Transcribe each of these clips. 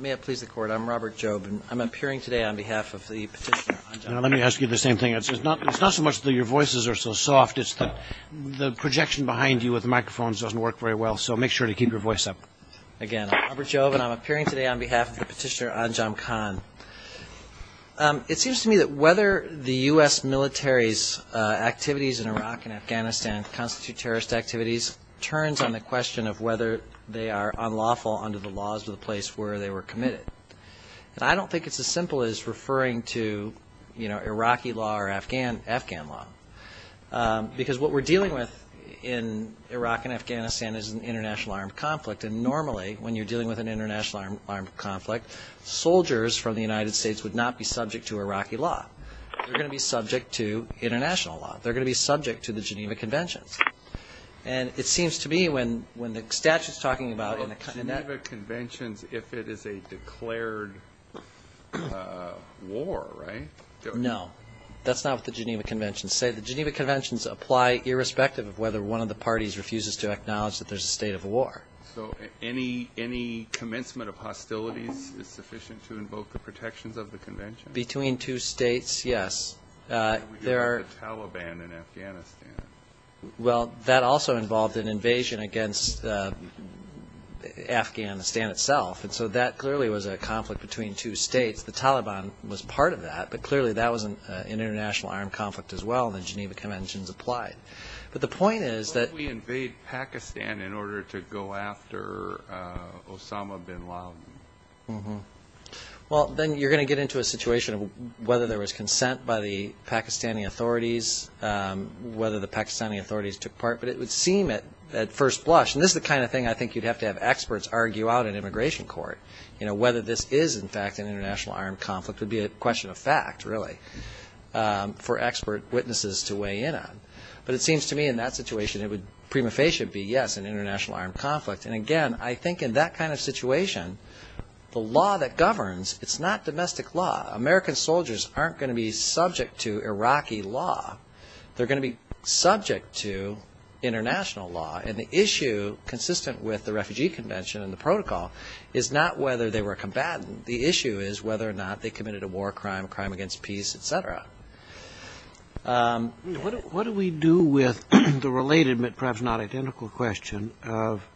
May it please the court, I'm Robert Jobe and I'm appearing today on behalf of the petitioner Anjom Khan. Now let me ask you the same thing, it's not so much that your voices are so soft, it's that the projection behind you with the microphones doesn't work very well, so make sure to keep your voice up. Again, I'm Robert Jobe and I'm appearing today on behalf of the petitioner Anjom Khan. It seems to me that whether the U.S. military's activities in Iraq and Afghanistan constitute terrorist activities turns on the question of whether they are unlawful under the laws of the place where they were committed. And I don't think it's as simple as referring to Iraqi law or Afghan law. Because what we're dealing with in Iraq and Afghanistan is an international armed conflict and normally when you're dealing with an international armed conflict, soldiers from the United States would not be subject to Iraqi law. They're going to be subject to international law. They're going to be subject to the Geneva Conventions. And it seems to me when the statute's talking about... But the Geneva Conventions, if it is a declared war, right? No. That's not what the Geneva Conventions say. The Geneva Conventions apply irrespective of whether one of the parties refuses to acknowledge that there's a state of war. So any commencement of hostilities is sufficient to invoke the protections of the Convention? Between two states, yes. What about the Taliban in Afghanistan? Well, that also involved an invasion against Afghanistan itself. And so that clearly was a conflict between two states. The Taliban was part of that, but clearly that was an international armed conflict as well and the Geneva Conventions applied. But the point is that... What if we invade Pakistan in order to go after Osama bin Laden? Well, then you're going to get into a situation of whether there was consent by the Pakistani authorities, whether the Pakistani authorities took part. But it would seem at first blush... And this is the kind of thing I think you'd have to have experts argue out in immigration court. Whether this is in fact an international armed conflict would be a question of fact, really, for expert witnesses to weigh in on. But it seems to me in that situation it would prima facie be, yes, an international armed conflict. And again, I think in that kind of situation, the law that governs, it's not going to be subject to Iraqi law. They're going to be subject to international law. And the issue, consistent with the Refugee Convention and the protocol, is not whether they were a combatant. The issue is whether or not they committed a war crime, crime against peace, etc. What do we do with the related but perhaps not identical question of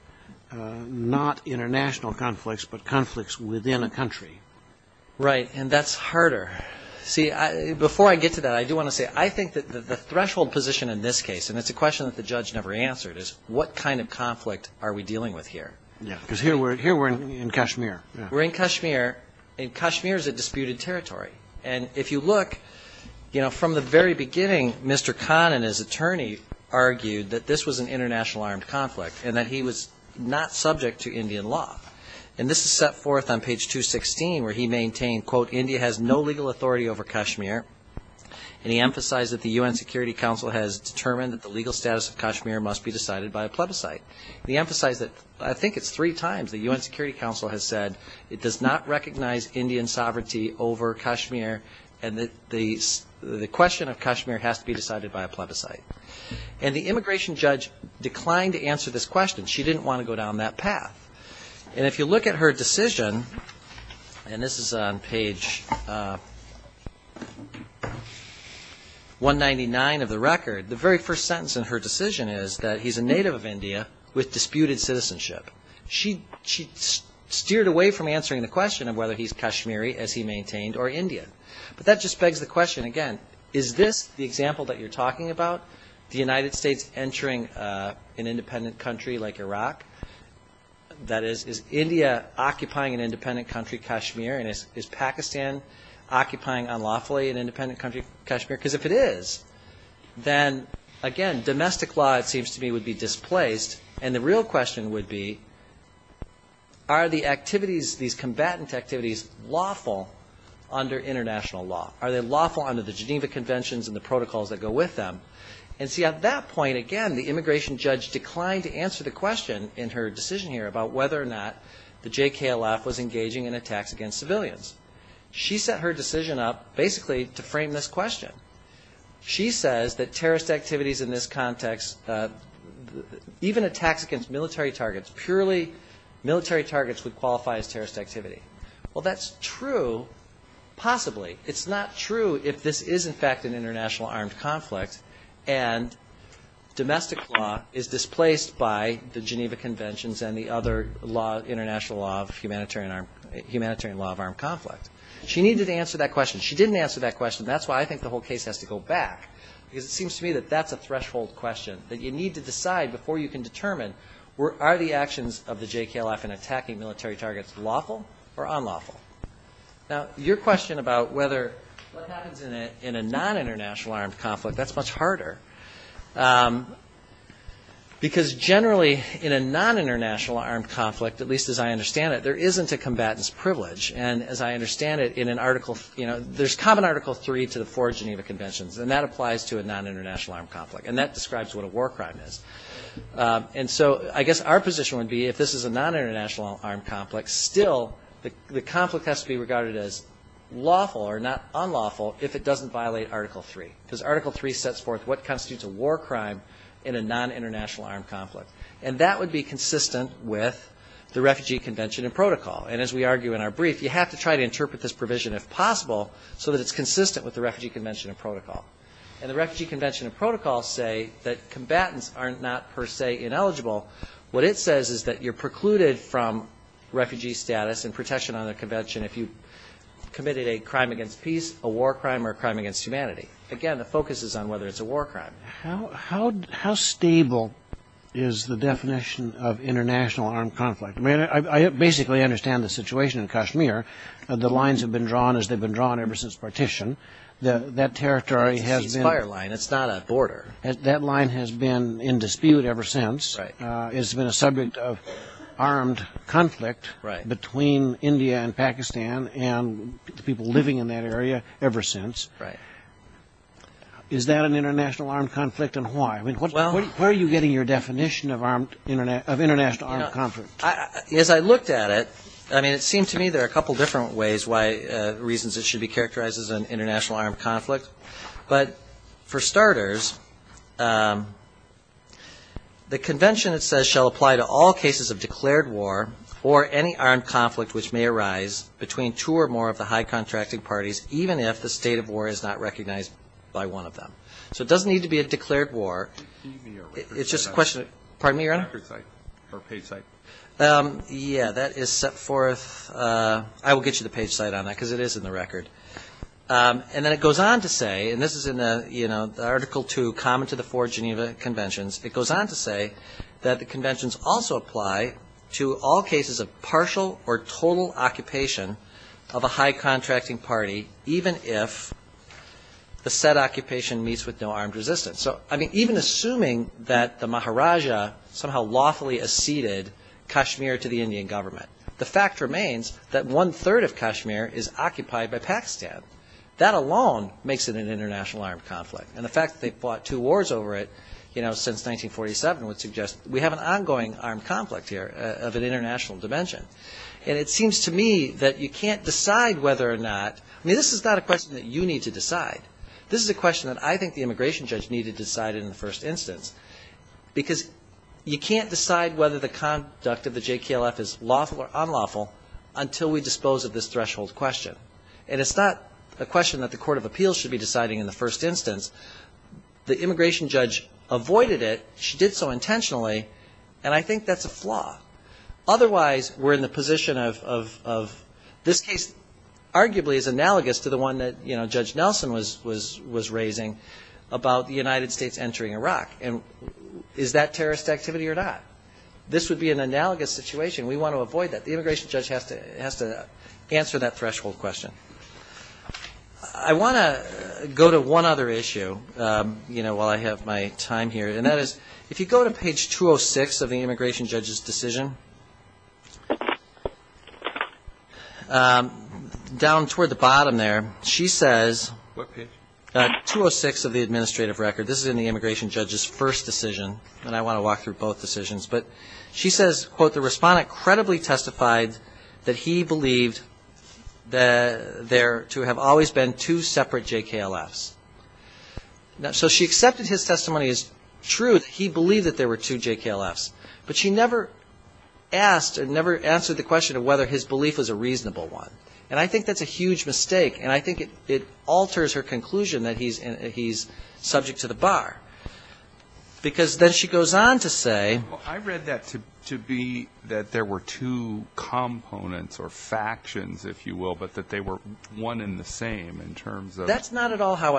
not international conflicts, but conflicts within a country? Right. And that's harder. See, before I get to that, I do want to say, I think that the threshold position in this case, and it's a question that the judge never answered, is what kind of conflict are we dealing with here? Because here we're in Kashmir. We're in Kashmir. And Kashmir is a disputed territory. And if you look, from the very beginning, Mr. Khan and his attorney argued that this was an international armed conflict and that he was not subject to Indian law. And this is set forth on page 216, where he maintained, quote, India has no legal authority over Kashmir. And he emphasized that the UN Security Council has determined that the legal status of Kashmir must be decided by a plebiscite. He emphasized that, I think it's three times, the UN Security Council has said it does not recognize Indian sovereignty over Kashmir and that the question of Kashmir has to be decided by a plebiscite. And the immigration judge declined to answer this question. She didn't want to go down that path. And if you look at her decision, and this is on page 199 of the record, the very first sentence in her decision is that he's a native of India with disputed citizenship. She steered away from answering the question of whether he's Kashmiri as he maintained, or Indian. But that just begs the question again, is this the example that you're talking about? The United States entering an independent country like Iraq? That is, is India occupying an independent country, Kashmir? And is Pakistan occupying unlawfully an independent country, Kashmir? Because if it is, then again, domestic law, it seems to me, would be displaced and the real question would be, are the activities, these combatant activities, lawful under international law? Are they lawful under the Geneva Conventions and the protocols that go with them? And see, at that point, again, the immigration judge declined to answer the question in her decision here about whether or not the JKLF was engaging in attacks against civilians. She set her decision up basically to frame this question. She says that terrorist activities in this context, even attacks against military targets, purely military targets would qualify as terrorist activity. Well, that's true, possibly. It's not true if this is in fact an international armed conflict and domestic law is displaced by the Geneva Conventions and the other international law of humanitarian law of armed conflict. She needed to answer that question. She didn't answer that question. That's why I think the whole case has to go back because it seems to me that that's a threshold question that you need to decide before you can determine are the actions of the JKLF in attacking military targets lawful or unlawful? Now, your question about whether what happens in a non-international armed conflict, that's much harder because generally in a non-international armed conflict, at least as I understand it, there isn't a combatant's privilege and as I understand it, there's common Article 3 to the four Geneva Conventions and that applies to a non-international armed conflict and that describes what a war crime is. And so I guess our position would be if this is a non-international armed conflict, still the conflict has to be regarded as lawful or not unlawful if it doesn't violate Article 3 because Article 3 sets forth what constitutes a war crime in a non-international armed conflict. And that would be consistent with the Refugee Convention and Protocol. And as we argue in our brief, you have to try to interpret this provision if possible so that it's consistent with the Refugee Convention and Protocol. And the Refugee Convention and Protocol say that combatants are not per se ineligible. What it says is that you're precluded from refugee status and protection on a convention if you committed a crime against peace, a war crime, or a crime against humanity. Again, the focus is on whether it's a war crime. How stable is the definition of international armed conflict? I mean, I basically understand the situation in Kashmir. The lines have been drawn as they've been drawn ever since partition. That territory has been... It's a ceasefire line. It's not a border. That line has been in dispute ever since. It's been a subject of debate between India and Pakistan and the people living in that area ever since. Is that an international armed conflict and why? I mean, where are you getting your definition of international armed conflict? As I looked at it, I mean, it seemed to me there are a couple different reasons it should be characterized as an international armed conflict. But for starters, the convention, it says, shall apply to all cases of which may arise between two or more of the high contracting parties, even if the state of war is not recognized by one of them. So it doesn't need to be a declared war. It's just a question of... Pardon me, your honor? Yeah, that is set forth... I will get you the page site on that because it is in the record. And then it goes on to say, and this is in the Article 2, Common to the Four Geneva Conventions, it goes on to say that the conventions also apply to all cases of partial or total occupation of a high contracting party, even if the said occupation meets with no armed resistance. So, I mean, even assuming that the Maharaja somehow lawfully acceded Kashmir to the Indian government, the fact remains that one-third of Kashmir is occupied by Pakistan. That alone makes it an international armed conflict. And the fact that they fought two wars over it since 1947 would suggest we have an international dimension. And it seems to me that you can't decide whether or not... I mean, this is not a question that you need to decide. This is a question that I think the immigration judge needed to decide in the first instance. Because you can't decide whether the conduct of the JKLF is lawful or unlawful until we dispose of this threshold question. And it's not a question that the Court of Appeals should be deciding in the first instance. The immigration judge avoided it. She did so intentionally. And I think that's a flaw. Otherwise, we're in the position of... this case arguably is analogous to the one that Judge Nelson was raising about the United States entering Iraq. And is that terrorist activity or not? This would be an analogous situation. We want to avoid that. The immigration judge has to answer that threshold question. I want to go to one other issue while I have my time here. And that is, if you go to page 206 of the immigration judge's decision, down toward the bottom there, she says... 206 of the administrative record. This is in the immigration judge's first decision. And I want to walk through both decisions. But she says, quote, the respondent credibly testified that he believed there to have always been two separate JKLFs. So she accepted his testimony as truth. He believed that there were two JKLFs. But she never asked or never answered the question of whether his belief was a reasonable one. And I think that's a huge mistake. And I think it alters her conclusion that he's subject to the bar. Because then she goes on to say... I read that to be that there were two components or factions, if you will, but that they were one and the same in terms of... That's how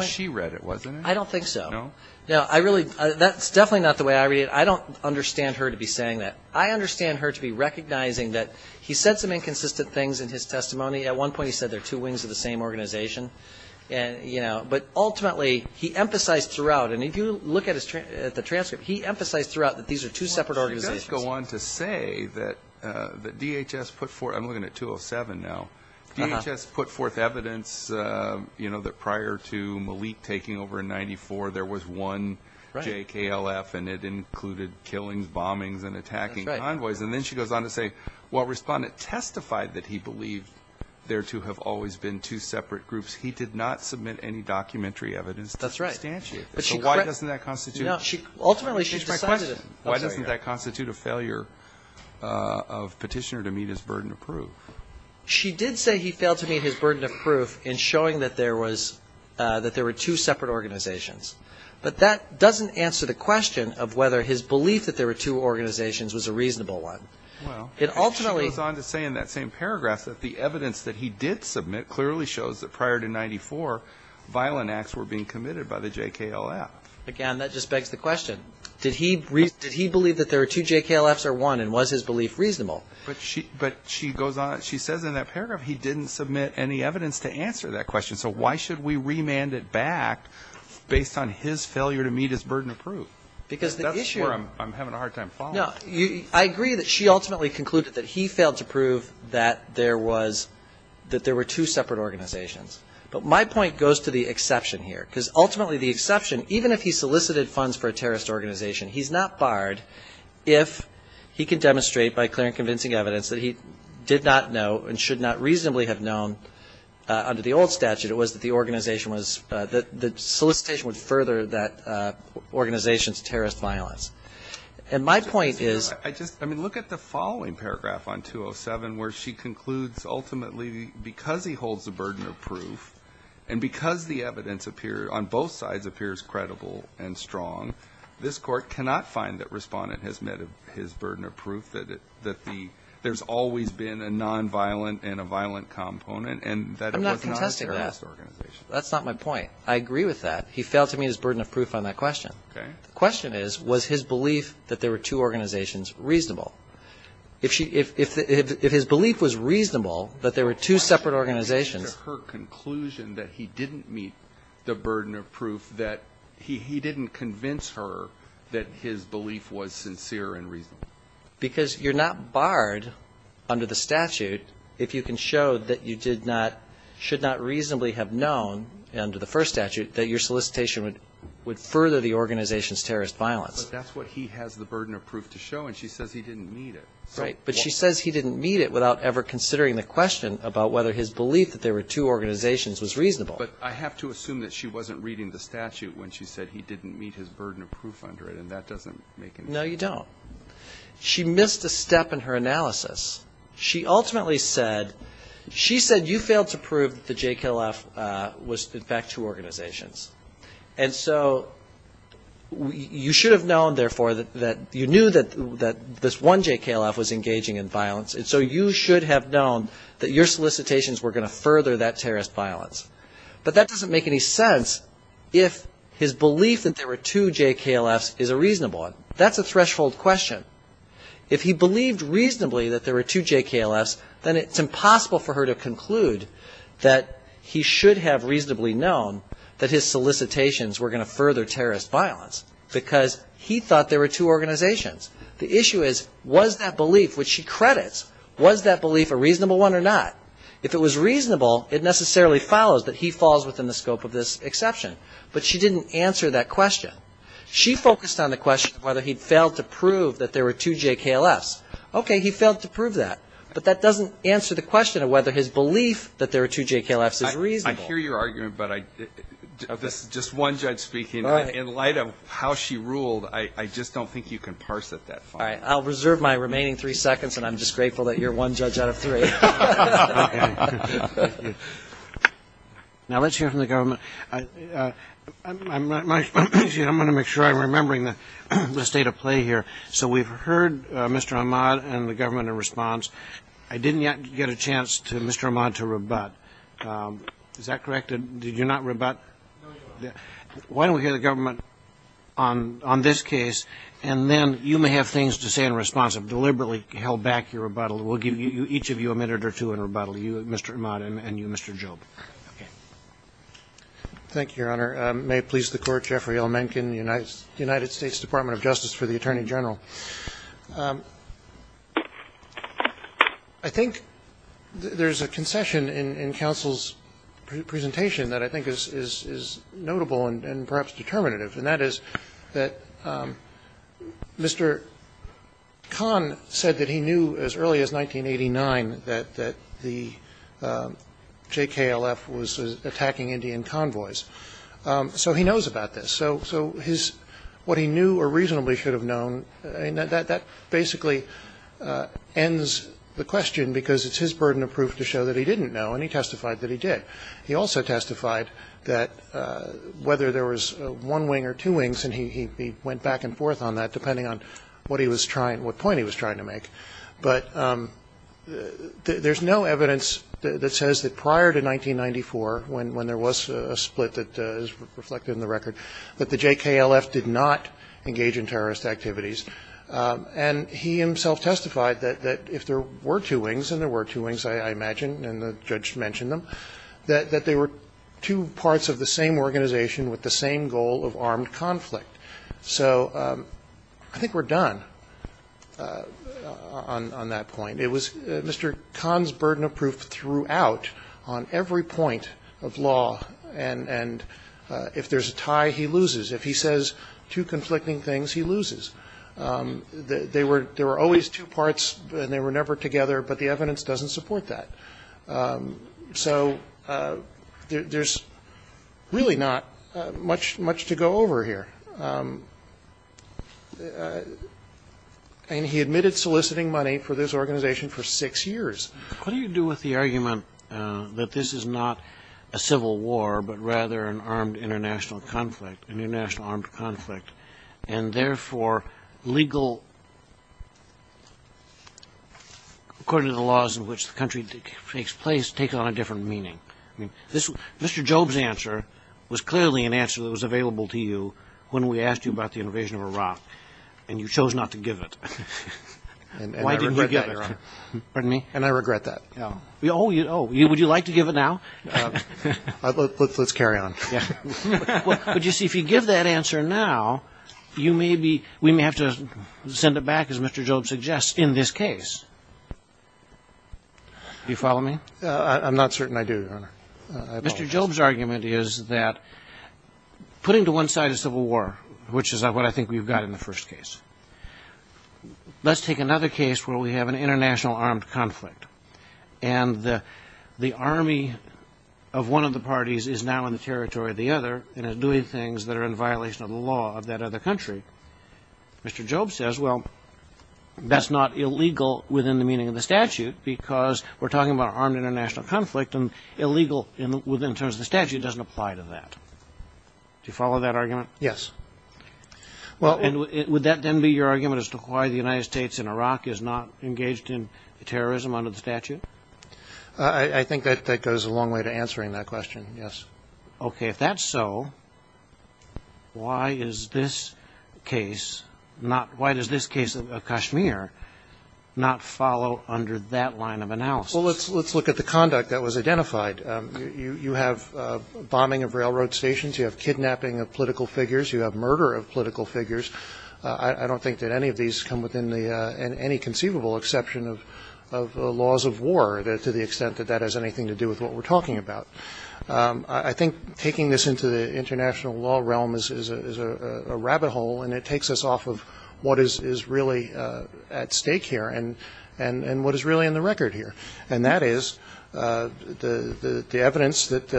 she read it, wasn't it? That's definitely not the way I read it. I don't understand her to be saying that. I understand her to be recognizing that he said some inconsistent things in his testimony. At one point he said they're two wings of the same organization. But ultimately, he emphasized throughout, and if you look at the transcript, he emphasized throughout that these are two separate organizations. He does go on to say that DHS put forth... I'm looking at 207 now. DHS put forth evidence that prior to Malik taking over in 94, there was one JKLF, and it included killings, bombings, and attacking convoys. And then she goes on to say, while Respondent testified that he believed there to have always been two separate groups, he did not submit any documentary evidence to substantiate that. So why doesn't that constitute... Why doesn't that constitute a failure of Petitioner to meet his burden of proof? She did say he failed to meet his burden of proof in showing that there were two separate organizations. But that doesn't answer the question of whether his belief that there were two organizations was a reasonable one. She goes on to say in that same paragraph that the evidence that he did submit clearly shows that prior to 94, violent acts were being committed by the JKLF. So that begs the question, did he believe that there were two JKLFs or one? And was his belief reasonable? She says in that paragraph he didn't submit any evidence to answer that question. So why should we remand it back based on his failure to meet his burden of proof? Because that's where I'm having a hard time following. I agree that she ultimately concluded that he failed to prove that there were two separate organizations. But my point goes to the exception here. Because ultimately the exception, even if he solicited funds for a terrorist organization, he's not barred if he can demonstrate by clear and convincing evidence that he did not know and should not reasonably have known under the old statute, it was that the organization was the solicitation would further that organization's terrorist violence. And my point is. I mean, look at the following paragraph on 207 where she concludes ultimately because he holds the burden of proof and because the evidence on both sides appears credible and strong, this Court cannot find that Respondent has met his burden of proof that there's always been a nonviolent and a violent component and that it was not a terrorist organization. I'm not contesting that. That's not my point. I agree with that. He failed to meet his burden of proof on that question. Okay. The question is, was his belief that there were two organizations reasonable? If she – if his belief was reasonable that there were two separate organizations If she came to her conclusion that he didn't meet the burden of proof, that he didn't convince her that his belief was sincere and reasonable. Because you're not barred under the statute if you can show that you did not – should not reasonably have known under the first statute that your solicitation would further the organization's terrorist violence. But that's what he has the burden of proof to show, and she says he didn't meet it. Right. But she says he didn't meet it without ever considering the question about whether his belief that there were two organizations was reasonable. But I have to assume that she wasn't reading the statute when she said he didn't meet his burden of proof under it, and that doesn't make any sense. No, you don't. She missed a step in her analysis. She ultimately said – she said you failed to prove that the JKLF was in fact two organizations. And so you should have known, therefore, that you knew that this one JKLF was engaging in violence, and so you should have known that your solicitations were going to further that terrorist violence. But that doesn't make any sense if his belief that there were two JKLFs is a reasonable one. That's a threshold question. If he believed reasonably that there were two JKLFs, then it's impossible for her to conclude that he should have reasonably known that his solicitations were going to further terrorist violence because he thought there were two organizations. The issue is was that belief, which she credits, was that belief a reasonable one or not? If it was reasonable, it necessarily follows that he falls within the scope of this exception. But she didn't answer that question. She focused on the question of whether he failed to prove that there were two JKLFs. Okay, he failed to prove that, but that doesn't answer the question of whether his belief that there were two JKLFs is reasonable. I hear your argument, but this is just one judge speaking. In light of how she ruled, I just don't think you can parse it that far. All right. I'll reserve my remaining three seconds, and I'm just grateful that you're one judge out of three. Okay. Now let's hear from the government. I'm going to make sure I'm remembering the state of play here. So we've heard Mr. Ahmad and the government in response. I didn't yet get a chance to Mr. Ahmad to rebut. Is that correct? Did you not rebut? Why don't we hear the government on this case, and then you may have things to say in response. I've deliberately held back your rebuttal. We'll give each of you a minute or two in rebuttal, you, Mr. Ahmad, and you, Mr. Job. Okay. Thank you, Your Honor. May it please the Court, Jeffrey L. Mencken, United States Department of Justice for the Attorney General. I think there's a concession in counsel's presentation that I think is notable and perhaps determinative, and that is that Mr. Khan said that he knew as early as 1989 that the JKLF was attacking Indian convoys. So he knows about this. So his what he knew or reasonably should have known, that basically ends the question because it's his burden of proof to show that he didn't know, and he testified that he did. He also testified that whether there was one wing or two wings, and he went back and forth on that depending on what he was trying, what point he was trying to make. But there's no evidence that says that prior to 1994, when there was a split that is reflected in the record, that the JKLF did not engage in terrorist activities. And he himself testified that if there were two wings, and there were two wings, I imagine, and the judge mentioned them, that they were two parts of the same organization with the same goal of armed conflict. So I think we're done on that point. It was Mr. Khan's burden of proof throughout on every point of law. And if there's a tie, he loses. If he says two conflicting things, he loses. They were always two parts and they were never together, but the evidence doesn't support that. So there's really not much to go over here. And he admitted soliciting money for this organization for six years. What do you do with the argument that this is not a civil war, but rather an armed international conflict, an international armed conflict, and therefore legal, according to the laws in which the country takes place, take on a different meaning? Mr. Jobe's answer was clearly an answer that was available to you when we asked you about the invasion of Iraq, and you chose not to give it. Why didn't you give it? And I regret that. Oh, would you like to give it now? Let's carry on. But you see, if you give that answer now, we may have to send it back, as Mr. Jobe suggests, in this case. Do you follow me? I'm not certain I do, Your Honor. I apologize. Mr. Jobe's argument is that putting to one side a civil war, which is what I think we've got in the first case, let's take another case where we have an international armed conflict, and the army of one of the parties is now in the territory of the other and is doing things that are in violation of the law of that other country. Mr. Jobe says, well, that's not illegal within the meaning of the statute because we're talking about an armed international conflict, and illegal in terms of the statute doesn't apply to that. Do you follow that argument? Yes. And would that then be your argument as to why the United States and Iraq is not engaged in terrorism under the statute? I think that goes a long way to answering that question, yes. Okay. If that's so, why is this case not why does this case of Kashmir not follow under that line of analysis? Well, let's look at the conduct that was identified. You have bombing of railroad stations. You have kidnapping of political figures. You have murder of political figures. I don't think that any of these come within any conceivable exception of laws of war to the extent that that has anything to do with what we're talking about. I think taking this into the international law realm is a rabbit hole, and it takes us off of what is really at stake here. And what is really on the record here. And that is the evidence that,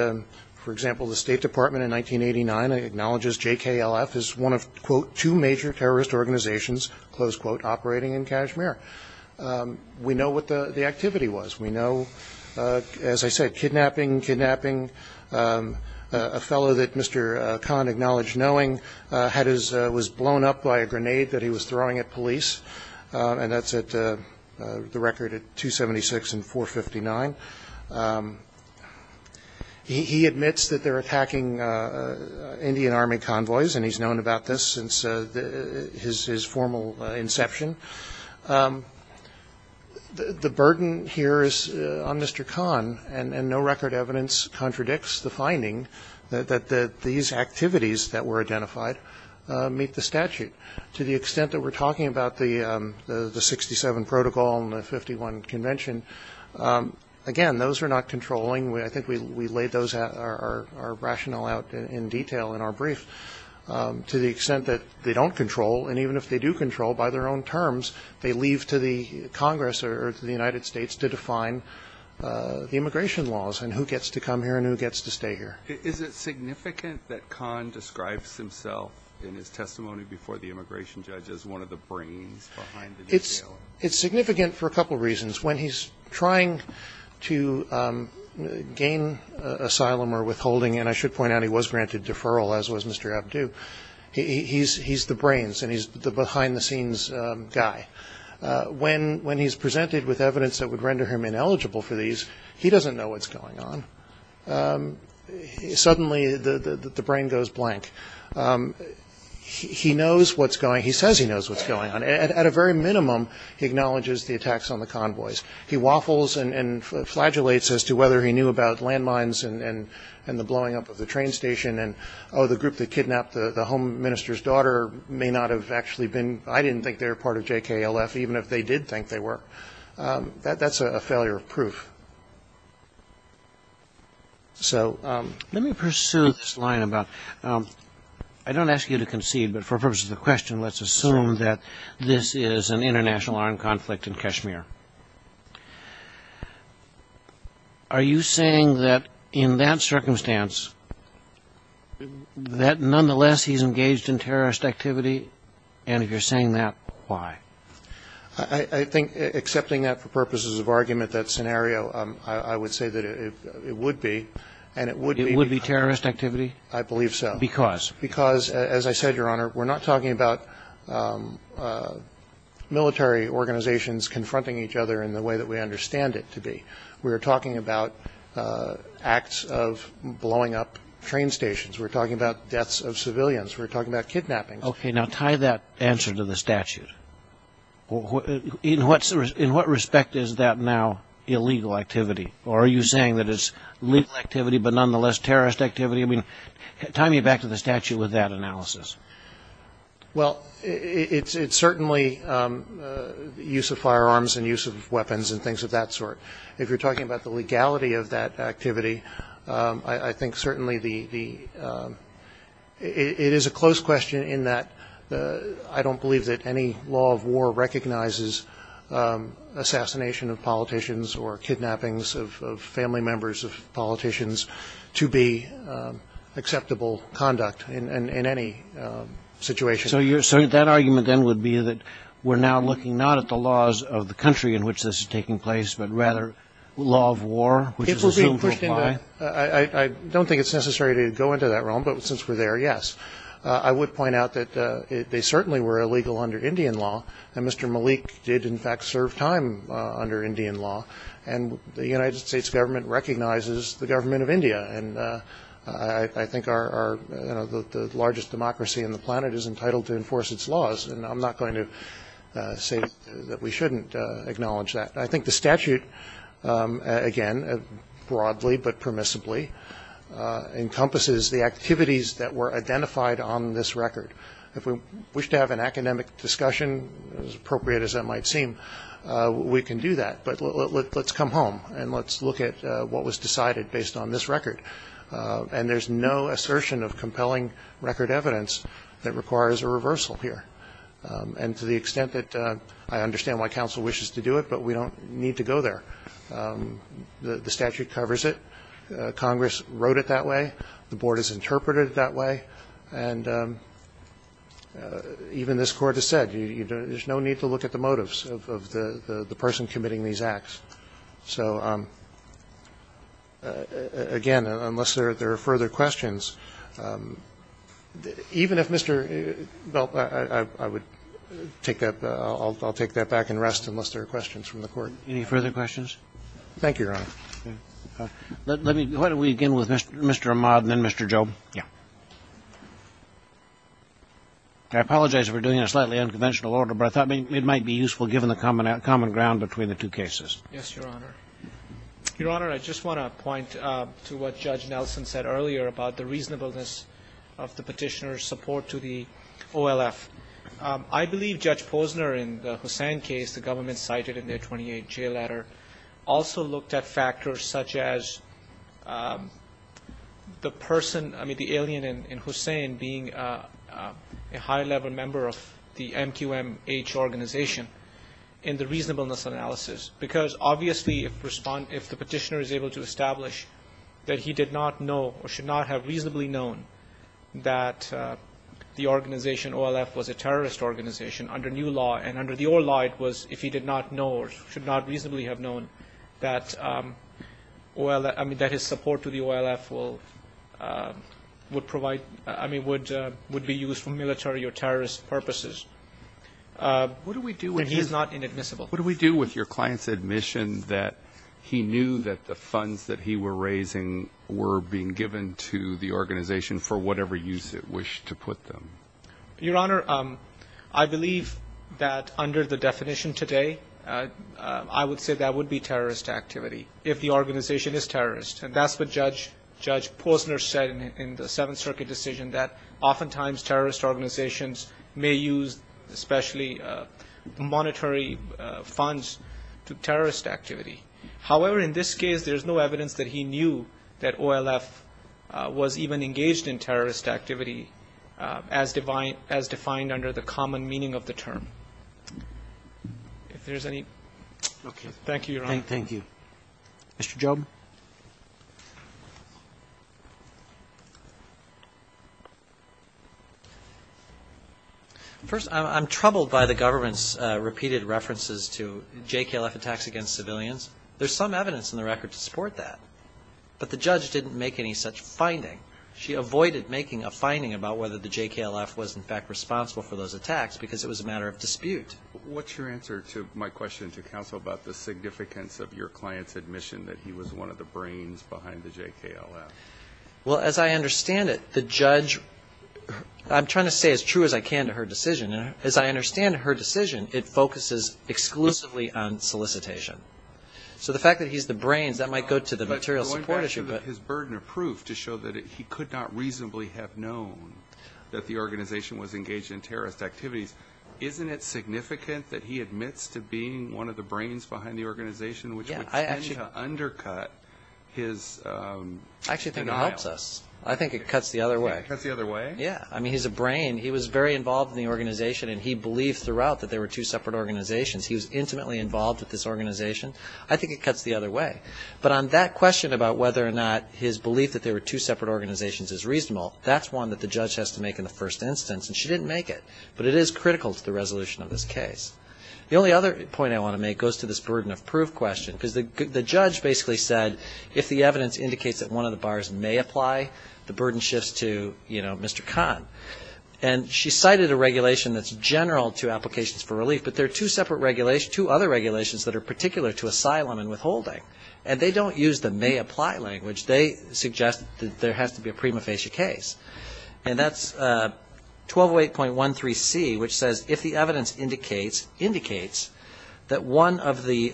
for example, the State Department in 1989 acknowledges JKLF as one of, quote, two major terrorist organizations, close quote, operating in Kashmir. We know what the activity was. We know, as I said, kidnapping, kidnapping. A fellow that Mr. Khan acknowledged knowing was blown up by a grenade that he was throwing at police. And that's at the record at 276 and 459. He admits that they're attacking Indian Army convoys, and he's known about this since his formal inception. The burden here is on Mr. Khan, and no record evidence contradicts the finding that these activities that were identified meet the statute. To the extent that we're talking about the 67 protocol and the 51 convention, again, those are not controlling. I think we laid our rationale out in detail in our brief. To the extent that they don't control, and even if they do control by their own terms, they leave to the Congress or to the United States to define the immigration laws and who gets to come here and who gets to stay here. Is it significant that Khan describes himself in his testimony before the immigration judge as one of the brains behind the New Deal? It's significant for a couple reasons. When he's trying to gain asylum or withholding, and I should point out he was granted deferral, as was Mr. Abdu, he's the brains and he's the behind-the-scenes guy. When he's presented with evidence that would render him ineligible for these, he doesn't know what's going on. Suddenly, the brain goes blank. He knows what's going on. He says he knows what's going on. At a very minimum, he acknowledges the attacks on the convoys. He waffles and flagellates as to whether he knew about landmines and the blowing up of the train station and, oh, the group that kidnapped the home minister's daughter may not have actually been. I didn't think they were part of JKLF, even if they did think they were. That's a failure of proof. So let me pursue this line about I don't ask you to concede, but for the purpose of the question, let's assume that this is an international armed conflict in Kashmir. Are you saying that in that circumstance, that nonetheless he's engaged in terrorist activity, and if you're saying that, why? I think accepting that for purposes of argument, that scenario, I would say that it would be, and it would be. It would be terrorist activity? I believe so. Because? Because, as I said, Your Honor, we're not talking about military organizations confronting each other in the way that we understand it to be. We're talking about acts of blowing up train stations. We're talking about deaths of civilians. We're talking about kidnappings. Okay. Now, tie that answer to the statute. In what respect is that now illegal activity? Or are you saying that it's legal activity, but nonetheless terrorist activity? I mean, tie me back to the statute with that analysis. Well, it's certainly the use of firearms and use of weapons and things of that sort. If you're talking about the legality of that activity, I think certainly it is a close question in that I don't believe that any law of war recognizes assassination of politicians or kidnappings of family members of politicians to be acceptable conduct in any situation. So that argument then would be that we're now looking not at the laws of the country in which this is taking place, but rather law of war, which is assumed to apply? I don't think it's necessary to go into that realm, but since we're there, yes. I would point out that they certainly were illegal under Indian law, and Mr. Malik did, in fact, serve time under Indian law. And the United States government recognizes the government of India, and I think the largest democracy on the planet is entitled to enforce its laws, and I'm not going to say that we shouldn't acknowledge that. I think the statute, again, broadly but permissibly, encompasses the activities that were identified on this record. If we wish to have an academic discussion, as appropriate as that might seem, we can do that. But let's come home and let's look at what was decided based on this record. And there's no assertion of compelling record evidence that requires a reversal here. And to the extent that I understand why counsel wishes to do it, but we don't need to go there. The statute covers it. Congress wrote it that way. The Board has interpreted it that way. And even this Court has said, there's no need to look at the motives of the person committing these acts. So, again, unless there are further questions, even if Mr. Bell, I would take that up, I'll take that back and rest unless there are questions from the Court. Any further questions? Thank you, Your Honor. Let me, why don't we begin with Mr. Ahmad and then Mr. Job. Yeah. I apologize if we're doing a slightly unconventional order, but I thought it might be useful given the common ground between the two cases. Yes, Your Honor. Your Honor, I just want to point to what Judge Nelson said earlier about the reasonableness of the Petitioner's support to the OLF. I believe Judge Posner in the Hussain case, the government cited in their 28-J letter, also looked at factors such as the person, I mean, the alien in Hussain being a high-level member of the MQMH organization in the reasonableness analysis. Because, obviously, if the Petitioner is able to establish that he did not know or that the organization OLF was a terrorist organization under new law, and under the old law, it was if he did not know or should not reasonably have known that his support to the OLF would provide, I mean, would be used for military or terrorist purposes. What do we do when he's not inadmissible? What do we do with your client's admission that he knew that the funds that he was raising were being given to the organization for whatever use it wished to put them? Your Honor, I believe that under the definition today, I would say that would be terrorist activity, if the organization is terrorist. And that's what Judge Posner said in the Seventh Circuit decision, that oftentimes terrorist organizations may use especially monetary funds to terrorist activity. However, in this case, there's no evidence that he knew that OLF was even engaged in terrorist activity as defined under the common meaning of the term. If there's any... Okay. Thank you, Your Honor. Thank you. Mr. Job? First, I'm troubled by the government's repeated references to JKLF attacks against civilians. There's some evidence in the record to support that. But the judge didn't make any such finding. She avoided making a finding about whether the JKLF was, in fact, responsible for those attacks because it was a matter of dispute. What's your answer to my question to counsel about the significance of your client's admission that he was one of those terrorists? That he was one of the brains behind the JKLF? Well, as I understand it, the judge... I'm trying to say as true as I can to her decision. As I understand her decision, it focuses exclusively on solicitation. So the fact that he's the brains, that might go to the material support issue. Going back to his burden of proof to show that he could not reasonably have known that the organization was engaged in terrorist activities, isn't it significant that he admits to being one of the brains behind the organization, which would tend to undercut his denial? I actually think it helps us. I think it cuts the other way. It cuts the other way? Yeah. I mean, he's a brain. He was very involved in the organization, and he believed throughout that there were two separate organizations. He was intimately involved with this organization. I think it cuts the other way. But on that question about whether or not his belief that there were two separate organizations is reasonable, that's one that the judge has to make in the first instance. And she didn't make it. But it is critical to the resolution of this case. The only other point I want to make goes to this burden of proof question, because the judge basically said if the evidence indicates that one of the bars may apply, the burden shifts to, you know, Mr. Khan. And she cited a regulation that's general to applications for relief, but there are two other regulations that are particular to asylum and withholding, and they don't use the may apply language. They suggest that there has to be a prima facie case. And that's 1208.13c, which says if the evidence indicates that one of the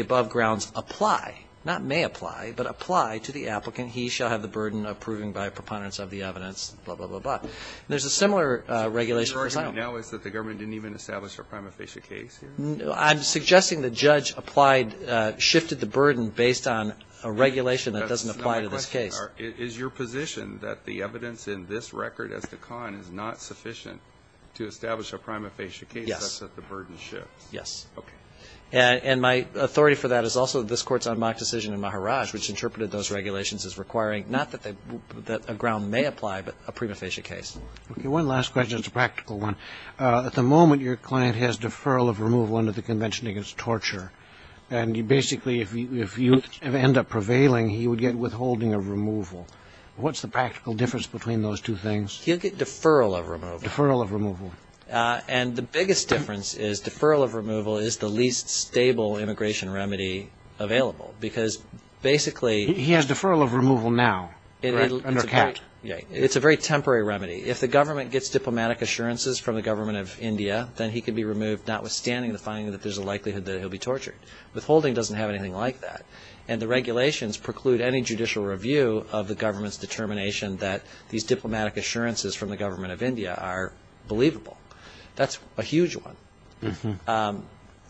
above grounds apply, not may apply, but apply to the applicant, he shall have the burden of proving by preponderance of the evidence, blah, blah, blah, blah. There's a similar regulation for asylum. So what you're arguing now is that the government didn't even establish a prima facie case? I'm suggesting the judge applied, shifted the burden based on a regulation that doesn't apply to this case. Is your position that the evidence in this record as to Khan is not sufficient to establish a prima facie case? Yes. That's that the burden shifts? Yes. Okay. And my authority for that is also this Court's unmarked decision in Maharaj, which interpreted those regulations as requiring not that a ground may apply, but a prima facie case. One last question. It's a practical one. At the moment, your client has deferral of removal under the Convention Against Torture. And basically, if you end up prevailing, he would get withholding of removal. What's the practical difference between those two things? He'll get deferral of removal. Deferral of removal. And the biggest difference is deferral of removal is the least stable immigration remedy available, because basically he has deferral of removal now. It's a very temporary remedy. notwithstanding the finding that there's a likelihood that he'll be tortured. Withholding doesn't have anything like that. And the regulations preclude any judicial review of the government's determination that these diplomatic assurances from the government of India are believable. That's a huge one.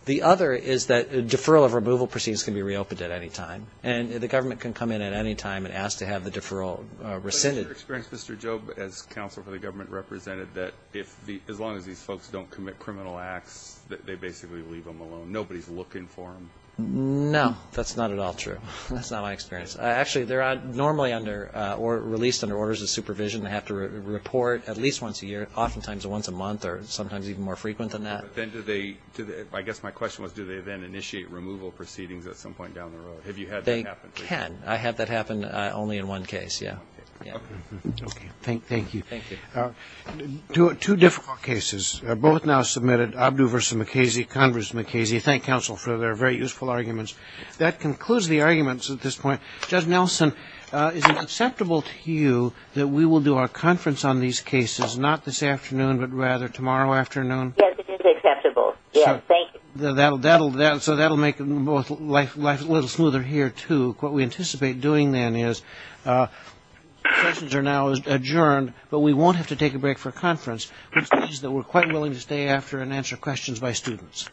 The other is that deferral of removal proceedings can be reopened at any time. And the government can come in at any time and ask to have the deferral rescinded. Has your experience, Mr. Job, as counsel for the government, represented that as long as these folks don't commit criminal acts, that they basically leave them alone? Nobody's looking for them? No. That's not at all true. That's not my experience. Actually, they're normally released under orders of supervision. They have to report at least once a year, oftentimes once a month, or sometimes even more frequent than that. I guess my question was, do they then initiate removal proceedings at some point down the road? Have you had that happen? They can. I have that happen only in one case, yeah. Okay. Thank you. Thank you. Two difficult cases. Both now submitted. Abdu versus McKasey. Congress McKasey. Thank counsel for their very useful arguments. That concludes the arguments at this point. Judge Nelson, is it acceptable to you that we will do our conference on these cases not this afternoon, but rather tomorrow afternoon? Yes, it is acceptable. Yes, thank you. So that will make life a little smoother here, too. What we anticipate doing then is questions are now adjourned, but we won't have to take a break for conference, which means that we're quite willing to stay after and answer questions by students.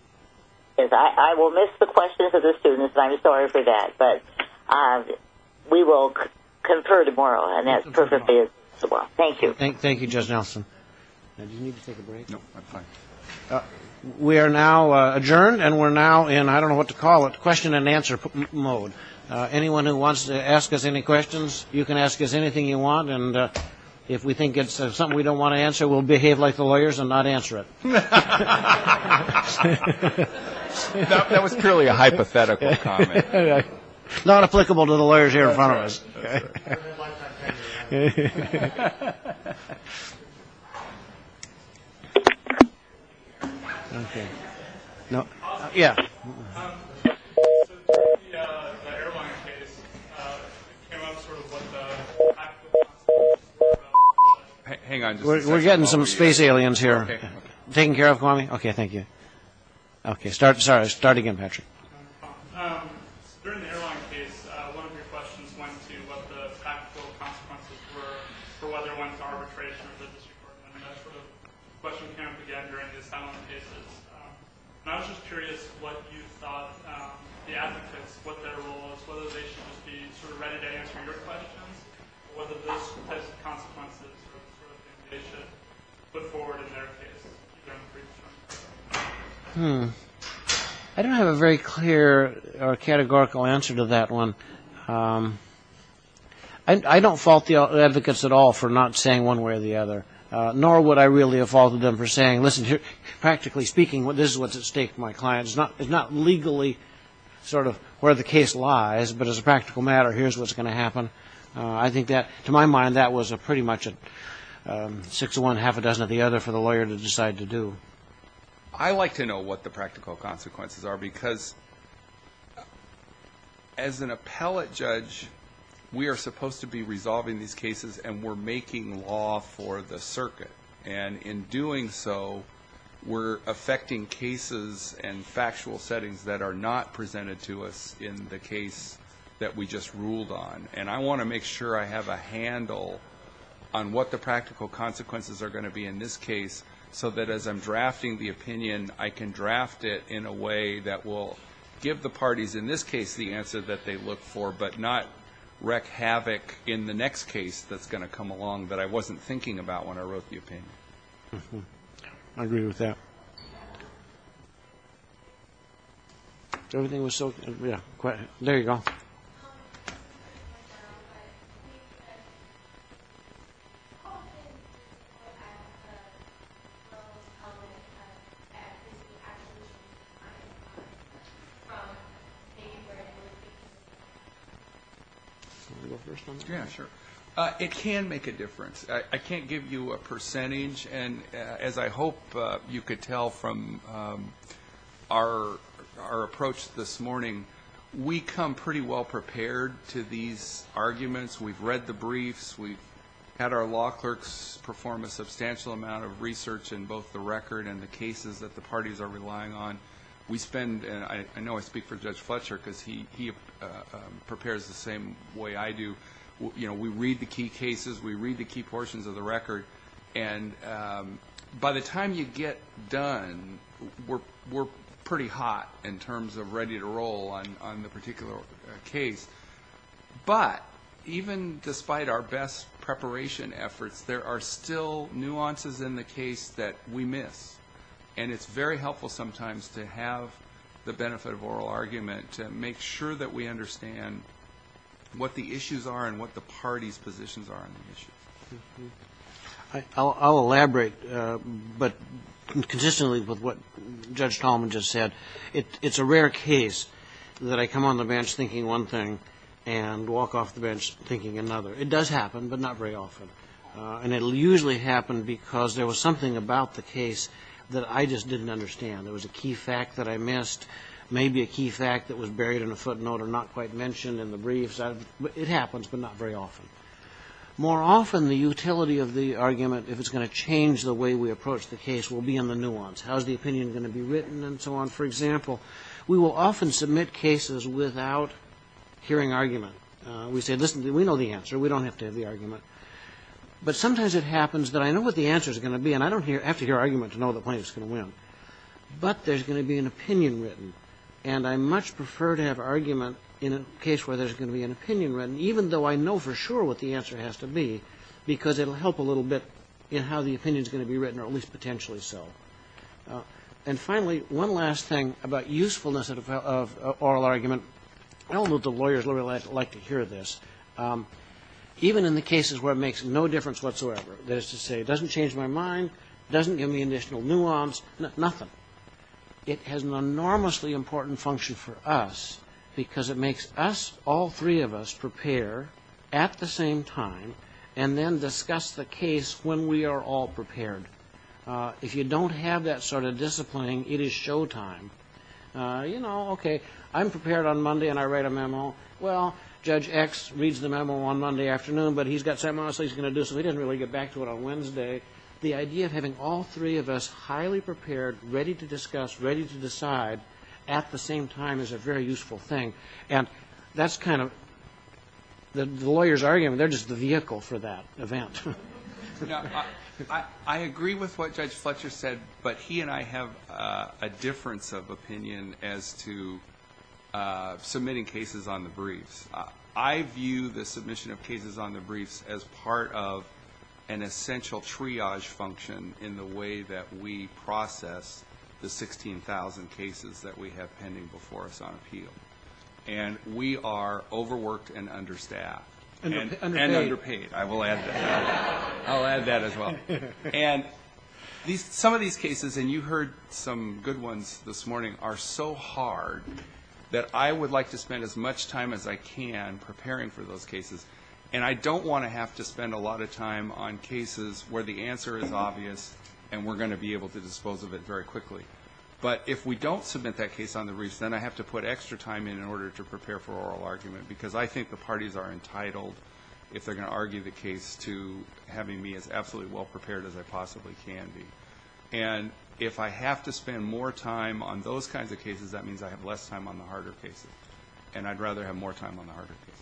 Yes, I will miss the questions of the students, and I'm sorry for that. But we will confer tomorrow, and that's perfectly acceptable. Thank you. Thank you, Judge Nelson. Now, do you need to take a break? No, I'm fine. We are now adjourned, and we're now in, I don't know what to call it, question and answer mode. Anyone who wants to ask us any questions, you can ask us anything you want, and if we think it's something we don't want to answer, we'll behave like the lawyers and not answer it. That was purely a hypothetical comment. Not applicable to the lawyers here in front of us. Okay. We're getting some space aliens here. Taking care of, Kwame? Okay, thank you. Sorry, start again, Patrick. During the airline case, one of your questions went to what the actual consequences were for whether it went to arbitration or the district court. I mean, that sort of question came up again during the asylum cases. And I was just curious what you thought the advocates, what their role was, whether they should just be sort of ready to answer your questions, or whether those types of consequences were the sort of thing they should put forward in their case. Hmm. I don't have a very clear or categorical answer to that one. I don't fault the advocates at all for not saying one way or the other, nor would I really have faulted them for saying, listen, practically speaking, this is what's at stake for my client. It's not legally sort of where the case lies, but as a practical matter, here's what's going to happen. I think that, to my mind, that was pretty much a six of one, half a dozen of the other for the lawyer to decide to do. I like to know what the practical consequences are, because as an appellate judge, we are supposed to be resolving these cases, and we're making law for the circuit. And in doing so, we're affecting cases and factual settings that are not presented to us in the case that we just ruled on. And I want to make sure I have a handle on what the practical consequences are going to be in this case, so that as I'm drafting the opinion, I can draft it in a way that will give the parties in this case the answer that they look for, but not wreak havoc in the next case that's going to come along that I wasn't thinking about when I wrote the opinion. I agree with that. Everything was so – yeah. There you go. Yeah, sure. It can make a difference. I can't give you a percentage. And as I hope you could tell from our approach this morning, we come pretty well prepared to these arguments. We've read the briefs. We've had our law clerks perform a substantial amount of research in both the record and the cases that the parties are relying on. We spend – and I know I speak for Judge Fletcher, because he prepares the same way I do. You know, we read the key cases. We read the key portions of the record. And by the time you get done, we're pretty hot in terms of ready to roll on the particular case. But even despite our best preparation efforts, there are still nuances in the case that we miss. And it's very helpful sometimes to have the benefit of oral argument to make sure that we understand what the issues are and what the parties' positions are on the issues. I'll elaborate, but consistently with what Judge Tolman just said, it's a rare case that I come on the bench thinking one thing and walk off the bench thinking another. It does happen, but not very often. And it'll usually happen because there was something about the case that I just didn't understand. There was a key fact that I missed, maybe a key fact that was buried in a footnote or not quite mentioned in the briefs. It happens, but not very often. More often, the utility of the argument, if it's going to change the way we approach the case, will be in the nuance. How is the opinion going to be written and so on? For example, we will often submit cases without hearing argument. We say, listen, we know the answer. We don't have to have the argument. But sometimes it happens that I know what the answer's going to be, and I don't have to hear argument to know the plaintiff's going to win. But there's going to be an opinion written. And I much prefer to have argument in a case where there's going to be an opinion written, even though I know for sure what the answer has to be, because it'll help a little bit in how the opinion's going to be written, or at least potentially so. And finally, one last thing about usefulness of oral argument. I don't know if the lawyers like to hear this. Even in the cases where it makes no difference whatsoever, that is to say, it doesn't change my mind, doesn't give me additional nuance, nothing. It has an enormously important function for us, because it makes us, all three of us, prepare at the same time, and then discuss the case when we are all prepared. If you don't have that sort of disciplining, it is showtime. You know, okay, I'm prepared on Monday and I write a memo. Well, Judge X reads the memo on Monday afternoon, but he's got something else he's going to do, so he doesn't really get back to it on Wednesday. The idea of having all three of us highly prepared, ready to discuss, ready to decide, at the same time is a very useful thing. And that's kind of the lawyer's argument. They're just the vehicle for that event. I agree with what Judge Fletcher said, but he and I have a difference of opinion as to submitting cases on the briefs. I view the submission of cases on the briefs as part of an essential triage function in the way that we process the 16,000 cases that we have pending before us on appeal. And we are overworked and understaffed. And underpaid. And underpaid. I will add that. I'll add that as well. And some of these cases, and you heard some good ones this morning, are so hard that I would like to spend as much time as I can preparing for those cases. And I don't want to have to spend a lot of time on cases where the answer is obvious and we're going to be able to dispose of it very quickly. But if we don't submit that case on the briefs, then I have to put extra time in in order to prepare for oral argument, because I think the parties are entitled, if they're going to argue the case, to having me as absolutely well prepared as I possibly can be. And if I have to spend more time on those kinds of cases, that means I have less time on the harder cases. And I'd rather have more time on the harder cases.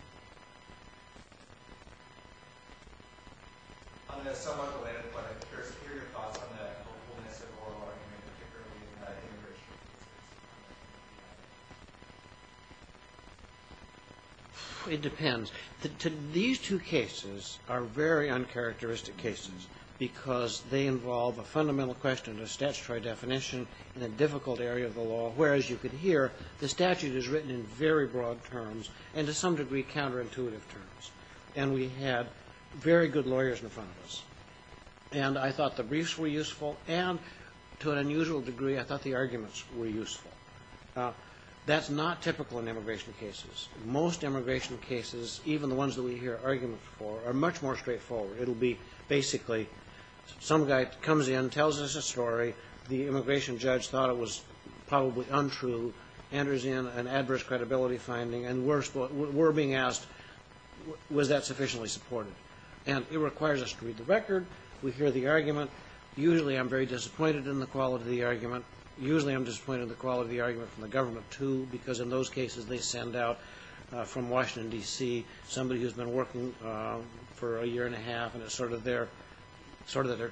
I mean, that's somewhat related, but I'm curious to hear your thoughts on the hopefulness of oral arguments, particularly immigration cases. It depends. These two cases are very uncharacteristic cases because they involve a fundamental question of statutory definition in a difficult area of the law, whereas you could hear the statute is written in very broad terms and to some degree counterintuitive terms. And we had very good lawyers in front of us. And I thought the briefs were useful, and to an unusual degree I thought the arguments were useful. Now, that's not typical in immigration cases. Most immigration cases, even the ones that we hear arguments for, are much more straightforward. It will be basically some guy comes in, tells us a story, the immigration judge thought it was probably untrue, enters in an adverse credibility finding, and we're being asked was that sufficiently supported. And it requires us to read the record. We hear the argument. Usually I'm very disappointed in the quality of the argument. Usually I'm disappointed in the quality of the argument from the government too because in those cases they send out from Washington, D.C., somebody who's been working for a year and a half and it's sort of their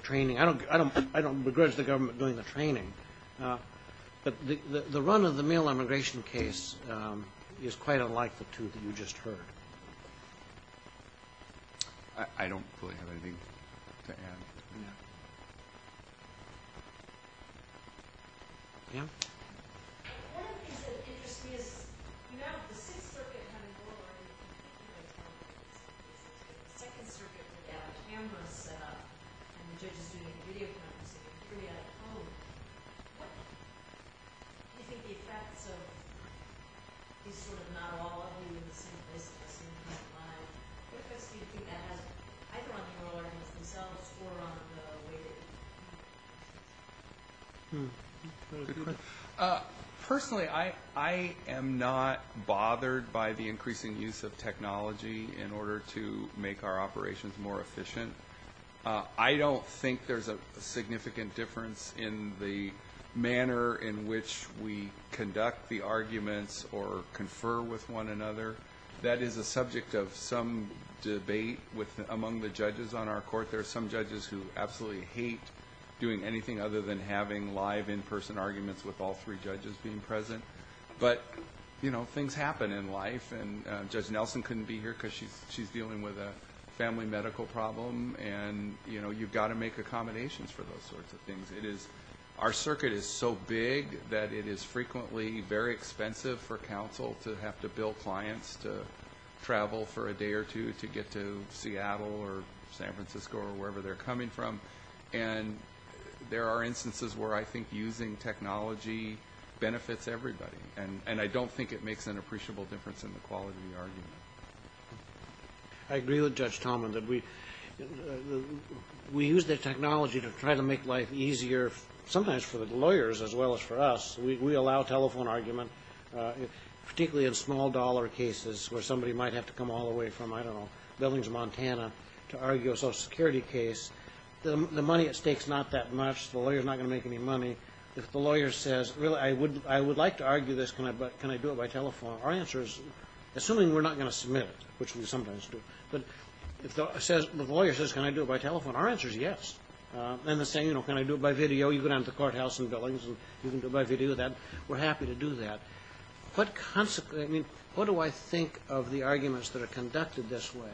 training. I don't begrudge the government doing the training. But the run of the mail immigration case is quite unlike the two that you just heard. I don't really have anything to add. Pam? One of the things that interests me is, you know, the Sixth Circuit having oral arguments in particular is one of those cases. The Second Circuit without a camera set up and the judges doing the video conferencing and the jury out of the home. What do you think the effects of these sort of not all of you in the same place are going to be on the line? What effects do you think that has either on the oral arguments themselves or on the way they're being presented? Personally, I am not bothered by the increasing use of technology in order to make our operations more efficient. I don't think there's a significant difference in the manner in which we conduct the arguments or confer with one another. That is a subject of some debate among the judges on our court. There are some judges who absolutely hate doing anything other than having live in-person arguments with all three judges being present. But, you know, things happen in life. Judge Nelson couldn't be here because she's dealing with a family medical problem. And, you know, you've got to make accommodations for those sorts of things. Our circuit is so big that it is frequently very expensive for counsel to have to bill clients to travel for a day or two to get to Seattle or San Francisco or wherever they're coming from. And there are instances where I think using technology benefits everybody. And I don't think it makes an appreciable difference in the quality of the argument. I agree with Judge Tallman that we use the technology to try to make life easier, sometimes for the lawyers as well as for us. We allow telephone argument, particularly in small-dollar cases where somebody might have to come all the way from, I don't know, Billings, Montana, to argue a Social Security case. The money at stake is not that much. The lawyer is not going to make any money. If the lawyer says, really, I would like to argue this. Can I do it by telephone? Our answer is, assuming we're not going to submit it, which we sometimes do. But if the lawyer says, can I do it by telephone? Our answer is yes. And they're saying, you know, can I do it by video? You go down to the courthouse in Billings and you can do it by video. We're happy to do that. What do I think of the arguments that are conducted this way?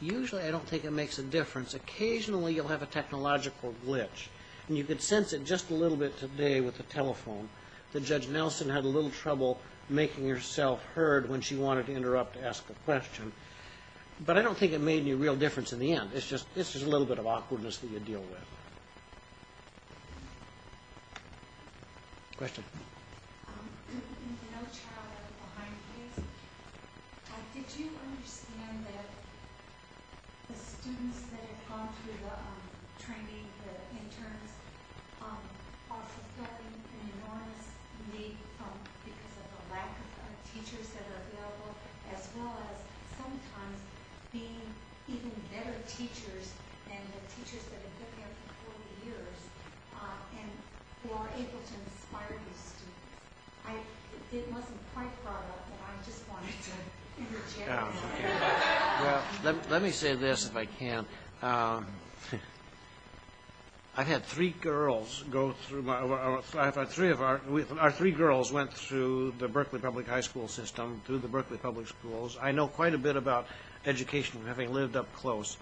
Usually I don't think it makes a difference. Occasionally you'll have a technological glitch. And you could sense it just a little bit today with the telephone that Judge Nelson had a little trouble making herself heard when she wanted to interrupt to ask a question. But I don't think it made any real difference in the end. It's just a little bit of awkwardness that you deal with. Question? In the nochow of behind the scenes, did you understand that the students that have gone through the training, the interns, are fulfilling an enormous need because of the lack of teachers that are available, as well as sometimes being even better teachers than the teachers that have been there for 40 years and who are able to inspire these students? It wasn't quite brought up, but I just wanted to interject. Let me say this, if I can. I've had three girls go through my – our three girls went through the Berkeley Public High School system, through the Berkeley Public Schools. I know quite a bit about education from having lived up close.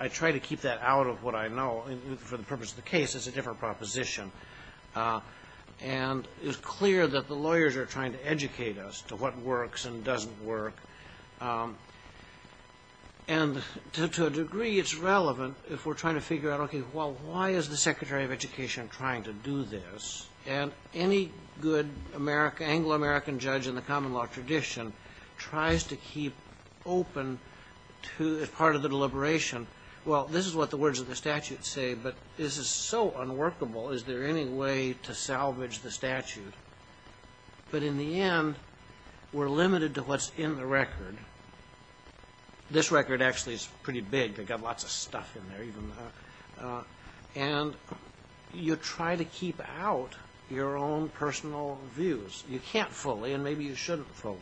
I try to keep that out of what I know for the purpose of the case. It's a different proposition. And it's clear that the lawyers are trying to educate us to what works and doesn't work. And to a degree it's relevant if we're trying to figure out, okay, well, why is the Secretary of Education trying to do this? And any good Anglo-American judge in the common law tradition tries to keep open as part of the deliberation, well, this is what the words of the statute say, but this is so unworkable. Is there any way to salvage the statute? But in the end, we're limited to what's in the record. This record actually is pretty big. They've got lots of stuff in there. And you try to keep out your own personal views. You can't fully, and maybe you shouldn't fully.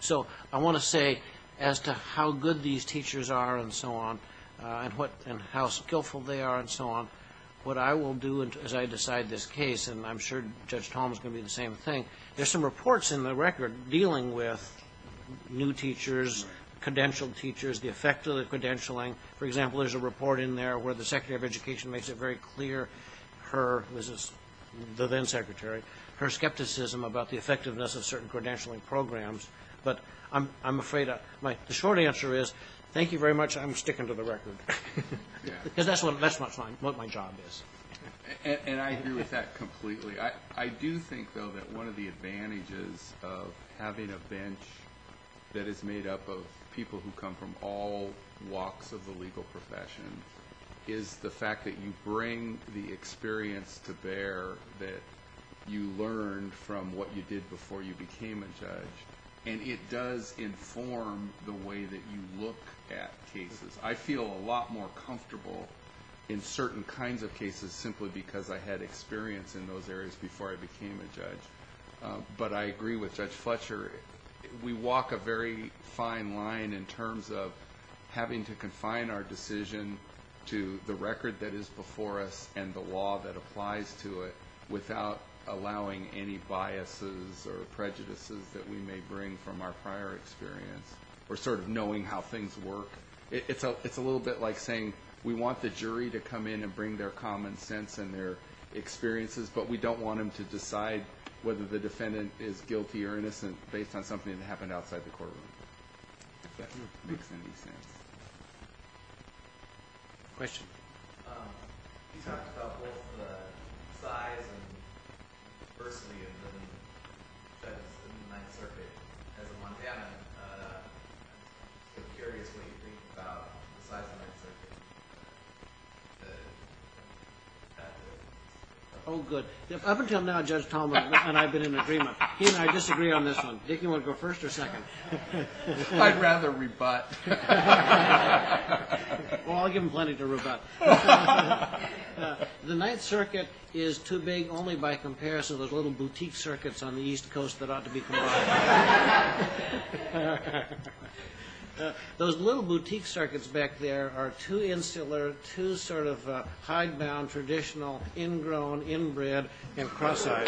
So I want to say as to how good these teachers are and so on, and how skillful they are and so on, what I will do as I decide this case, and I'm sure Judge Tom's going to do the same thing, there's some reports in the record dealing with new teachers, credentialed teachers, the effect of the credentialing. For example, there's a report in there where the Secretary of Education makes it very clear, her, who is the then-Secretary, her skepticism about the effectiveness of certain credentialing programs. But I'm afraid the short answer is thank you very much, I'm sticking to the record. Because that's what my job is. And I agree with that completely. I do think, though, that one of the advantages of having a bench that is made up of people who come from all walks of the legal profession is the fact that you bring the experience to bear that you learned from what you did before you became a judge. And it does inform the way that you look at cases. I feel a lot more comfortable in certain kinds of cases simply because I had experience in those areas before I became a judge. But I agree with Judge Fletcher. We walk a very fine line in terms of having to confine our decision to the record that is before us and the law that applies to it without allowing any biases or prejudices that we may bring from our prior experience or sort of knowing how things work. It's a little bit like saying we want the jury to come in and bring their common sense and their experiences, but we don't want them to decide whether the defendant is guilty or innocent based on something that happened outside the courtroom, if that makes any sense. Question? You talked about both the size and diversity of the judges in the Ninth Circuit. As a Montana, I'm curious what you think about the size of the Ninth Circuit. Oh, good. Up until now, Judge Tallman and I have been in agreement. He and I disagree on this one. Dick, do you want to go first or second? I'd rather rebut. Well, I'll give him plenty to rebut. The Ninth Circuit is too big only by comparison to those little boutique circuits on the East Coast that ought to be combined. Those little boutique circuits back there are too insular, too sort of hidebound, traditional, ingrown, inbred, and cross-eyed.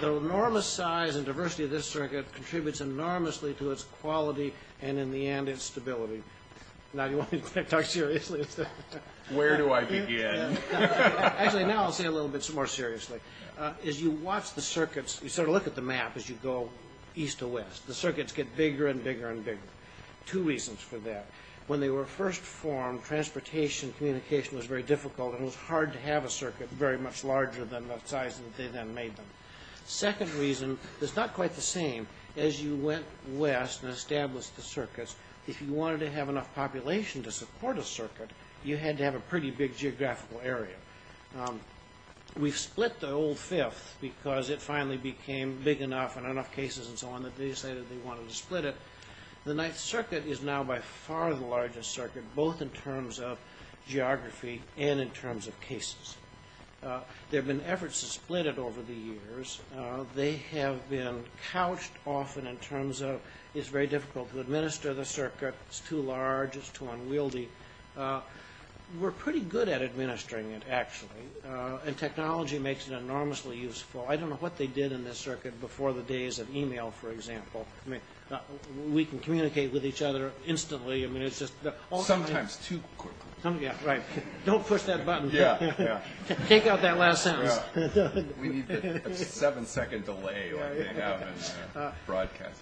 The enormous size and diversity of this circuit contributes enormously to its quality and, in the end, its stability. Now, you want me to talk seriously? Where do I begin? Actually, now I'll say a little bit more seriously. As you watch the circuits, you sort of look at the map as you go east to west. The circuits get bigger and bigger and bigger. Two reasons for that. When they were first formed, transportation, communication was very difficult, and it was hard to have a circuit very much larger than the size that they then made them. The second reason is not quite the same. As you went west and established the circuits, if you wanted to have enough population to support a circuit, you had to have a pretty big geographical area. We've split the old fifth because it finally became big enough and enough cases and so on that they decided they wanted to split it. The Ninth Circuit is now by far the largest circuit, both in terms of geography and in terms of cases. There have been efforts to split it over the years. They have been couched often in terms of it's very difficult to administer the circuit, it's too large, it's too unwieldy. We're pretty good at administering it, actually, and technology makes it enormously useful. I don't know what they did in this circuit before the days of e-mail, for example. We can communicate with each other instantly. Sometimes too quickly. Don't push that button. Take out that last sentence. We need a seven-second delay when we hang out and broadcast.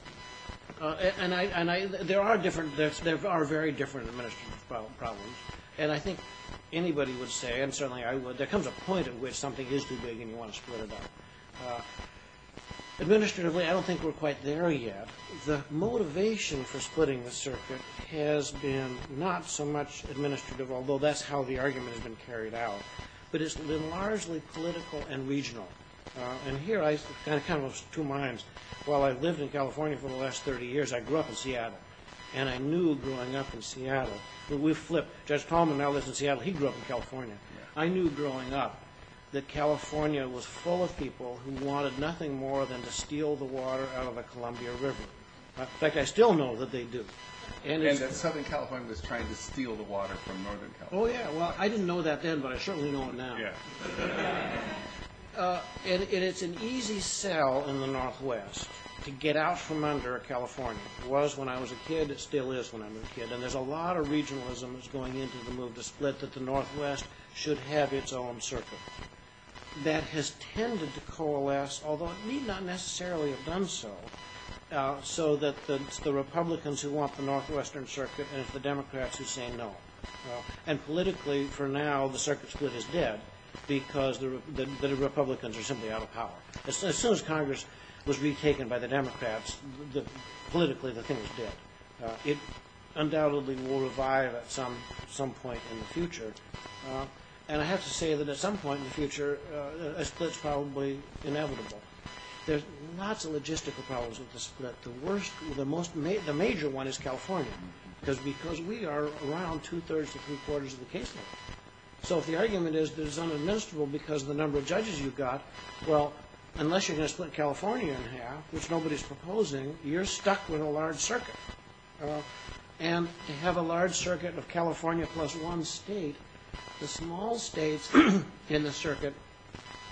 There are very different administrative problems, and I think anybody would say, and certainly I would, there comes a point at which something is too big and you want to split it up. Administratively, I don't think we're quite there yet. The motivation for splitting the circuit has been not so much administrative, although that's how the argument has been carried out, but it's been largely political and regional. Here I kind of have two minds. While I lived in California for the last 30 years, I grew up in Seattle, and I knew growing up in Seattle that we flipped. Judge Tallman now lives in Seattle. He grew up in California. I knew growing up that California was full of people who wanted nothing more than to steal the water out of the Columbia River. In fact, I still know that they do. And Southern California was trying to steal the water from Northern California. Oh, yeah. Well, I didn't know that then, but I certainly know it now. Yeah. And it's an easy sell in the Northwest to get out from under California. It was when I was a kid. It still is when I'm a kid. And there's a lot of regionalism that's going into the move to split that the Northwest should have its own circuit. That has tended to coalesce, although it need not necessarily have done so, so that it's the Republicans who want the Northwestern circuit and it's the Democrats who say no. And politically, for now, the circuit split is dead because the Republicans are simply out of power. As soon as Congress was retaken by the Democrats, politically the thing is dead. It undoubtedly will revive at some point in the future. And I have to say that at some point in the future, a split's probably inevitable. There's lots of logistical problems with the split. The major one is California because we are around two-thirds to three-quarters of the case load. So if the argument is that it's unadministerable because of the number of judges you've got, well, unless you're going to split California in half, which nobody's proposing, you're stuck with a large circuit. And to have a large circuit of California plus one state, the small states in the circuit,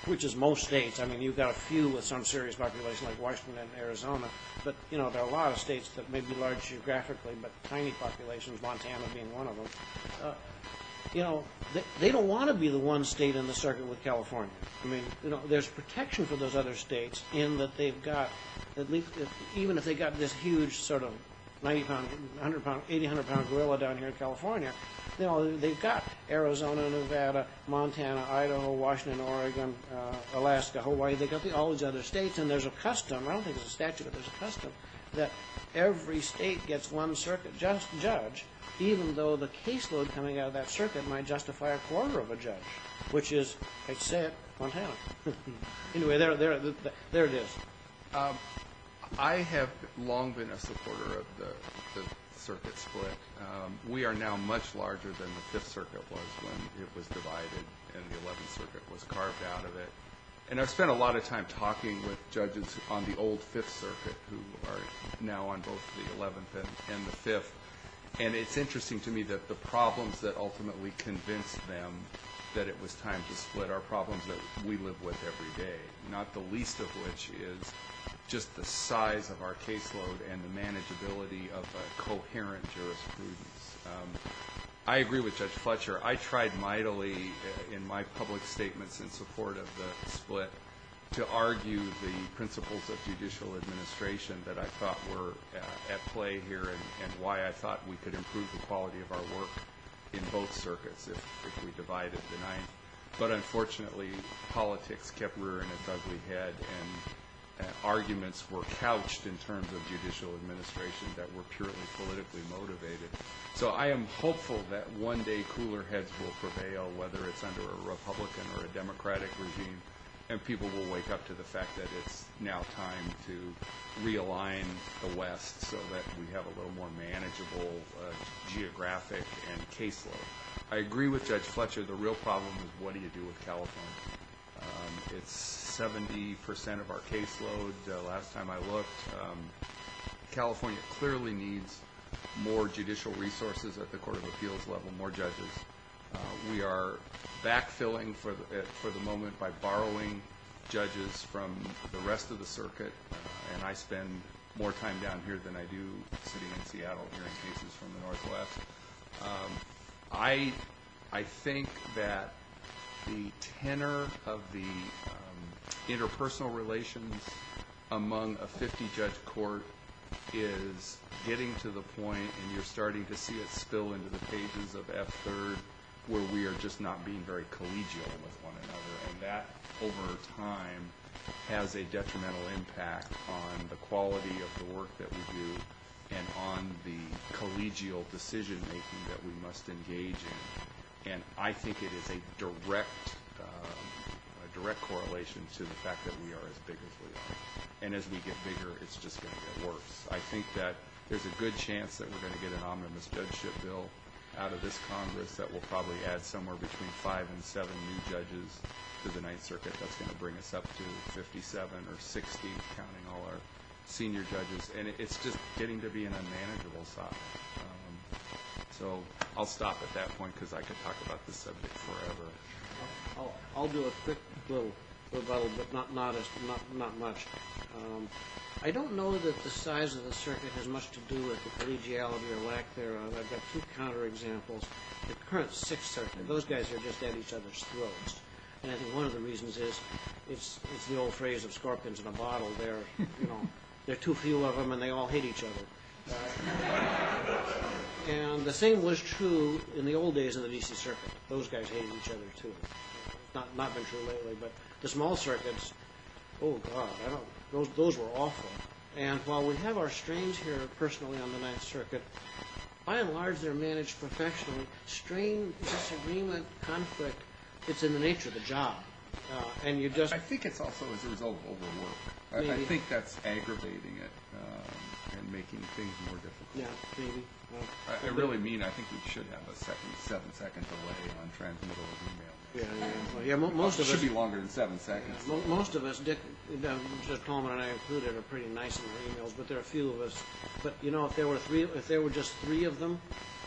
which is most states, I mean you've got a few with some serious population like Washington and Arizona, but there are a lot of states that may be large geographically, but tiny populations, Montana being one of them, they don't want to be the one state in the circuit with California. There's protection for those other states in that they've got, even if they've got this huge sort of 90-pound, 80-pound gorilla down here in California, they've got Arizona, Nevada, Montana, Idaho, Washington, Oregon, Alaska, Hawaii, they've got all these other states, and there's a custom, I don't think it's a statute, but there's a custom that every state gets one circuit judge, even though the case load coming out of that circuit might justify a quarter of a judge, which is, I should say it, Montana. Anyway, there it is. I have long been a supporter of the circuit split. We are now much larger than the Fifth Circuit was when it was divided and the Eleventh Circuit was carved out of it. And I've spent a lot of time talking with judges on the old Fifth Circuit, who are now on both the Eleventh and the Fifth, and it's interesting to me that the problems that ultimately convinced them that it was time to split are problems that we live with every day, not the least of which is just the size of our case load and the manageability of a coherent jurisprudence. I agree with Judge Fletcher. I tried mightily in my public statements in support of the split to argue the principles of judicial administration that I thought were at play here and why I thought we could improve the quality of our work in both circuits if we divided the Ninth, but unfortunately politics kept rearing its ugly head and arguments were couched in terms of judicial administration that were purely politically motivated. So I am hopeful that one day cooler heads will prevail, whether it's under a Republican or a Democratic regime, and people will wake up to the fact that it's now time to realign the West so that we have a little more manageable geographic and case load. I agree with Judge Fletcher. The real problem is what do you do with California? It's 70% of our case load. Last time I looked, California clearly needs more judicial resources at the court of appeals level, more judges. We are backfilling for the moment by borrowing judges from the rest of the circuit, and I spend more time down here than I do sitting in Seattle hearing cases from the Northwest. I think that the tenor of the interpersonal relations among a 50-judge court is getting to the point and you're starting to see it spill into the pages of F-3rd where we are just not being very collegial with one another, and that over time has a detrimental impact on the quality of the work that we do and on the collegial decision-making that we must engage in, and I think it is a direct correlation to the fact that we are as big as we are, and as we get bigger, it's just going to get worse. I think that there's a good chance that we're going to get an omnibus judgeship bill out of this Congress that will probably add somewhere between five and seven new judges to the Ninth Circuit that's going to bring us up to 57 or 60, not counting all our senior judges, and it's just getting to be an unmanageable size. So I'll stop at that point because I could talk about this subject forever. I'll do a quick little bubble, but not much. I don't know that the size of the circuit has much to do with collegiality or lack thereof. I've got two counterexamples. The current Sixth Circuit, those guys are just at each other's throats, and I think one of the reasons is it's the old phrase of scorpions in a bottle. There are too few of them, and they all hate each other. And the same was true in the old days of the D.C. Circuit. Those guys hated each other too. It's not been true lately, but the small circuits, oh, God, those were awful. And while we have our strains here personally on the Ninth Circuit, by and large they're managed professionally. Strain, disagreement, conflict, it's in the nature of the job. I think it's also as a result of overwork. I think that's aggravating it and making things more difficult. Yeah, maybe. I really mean I think we should have a seven-second delay on transmittable emails. It should be longer than seven seconds. Most of us, Dick Coleman and I included, are pretty nice in our emails, but there are a few of us. But, you know, if there were just three of them,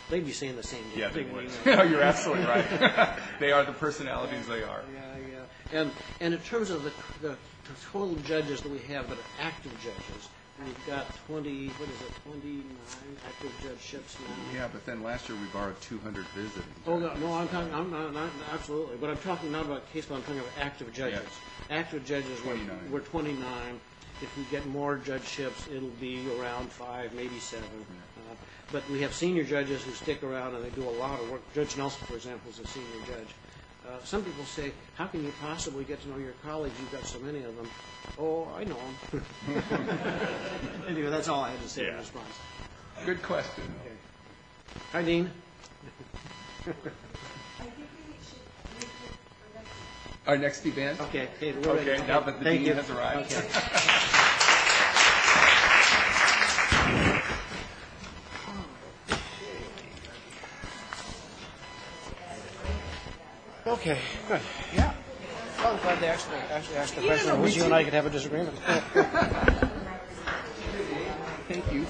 they'd be saying the same thing. Yeah, they would. You're absolutely right. They are the personalities they are. Yeah, yeah. And in terms of the total judges that we have that are active judges, we've got 20, what is it, 29 active judge ships. Yeah, but then last year we borrowed 200 visiting. Oh, no, absolutely. But I'm talking not about case law. I'm talking about active judges. Active judges were 29. If we get more judge ships, it will be around five, maybe seven. But we have senior judges who stick around and they do a lot of work. Judge Nelson, for example, is a senior judge. Some people say, how can you possibly get to know your colleagues? You've got so many of them. Oh, I know them. Anyway, that's all I had to say in response. Good question. Hi, Dean. I think we should make it our next event. Our next event? Okay. Thank you. Okay, good. Yeah. I was going to ask the President, if you and I could have a disagreement. Thank you.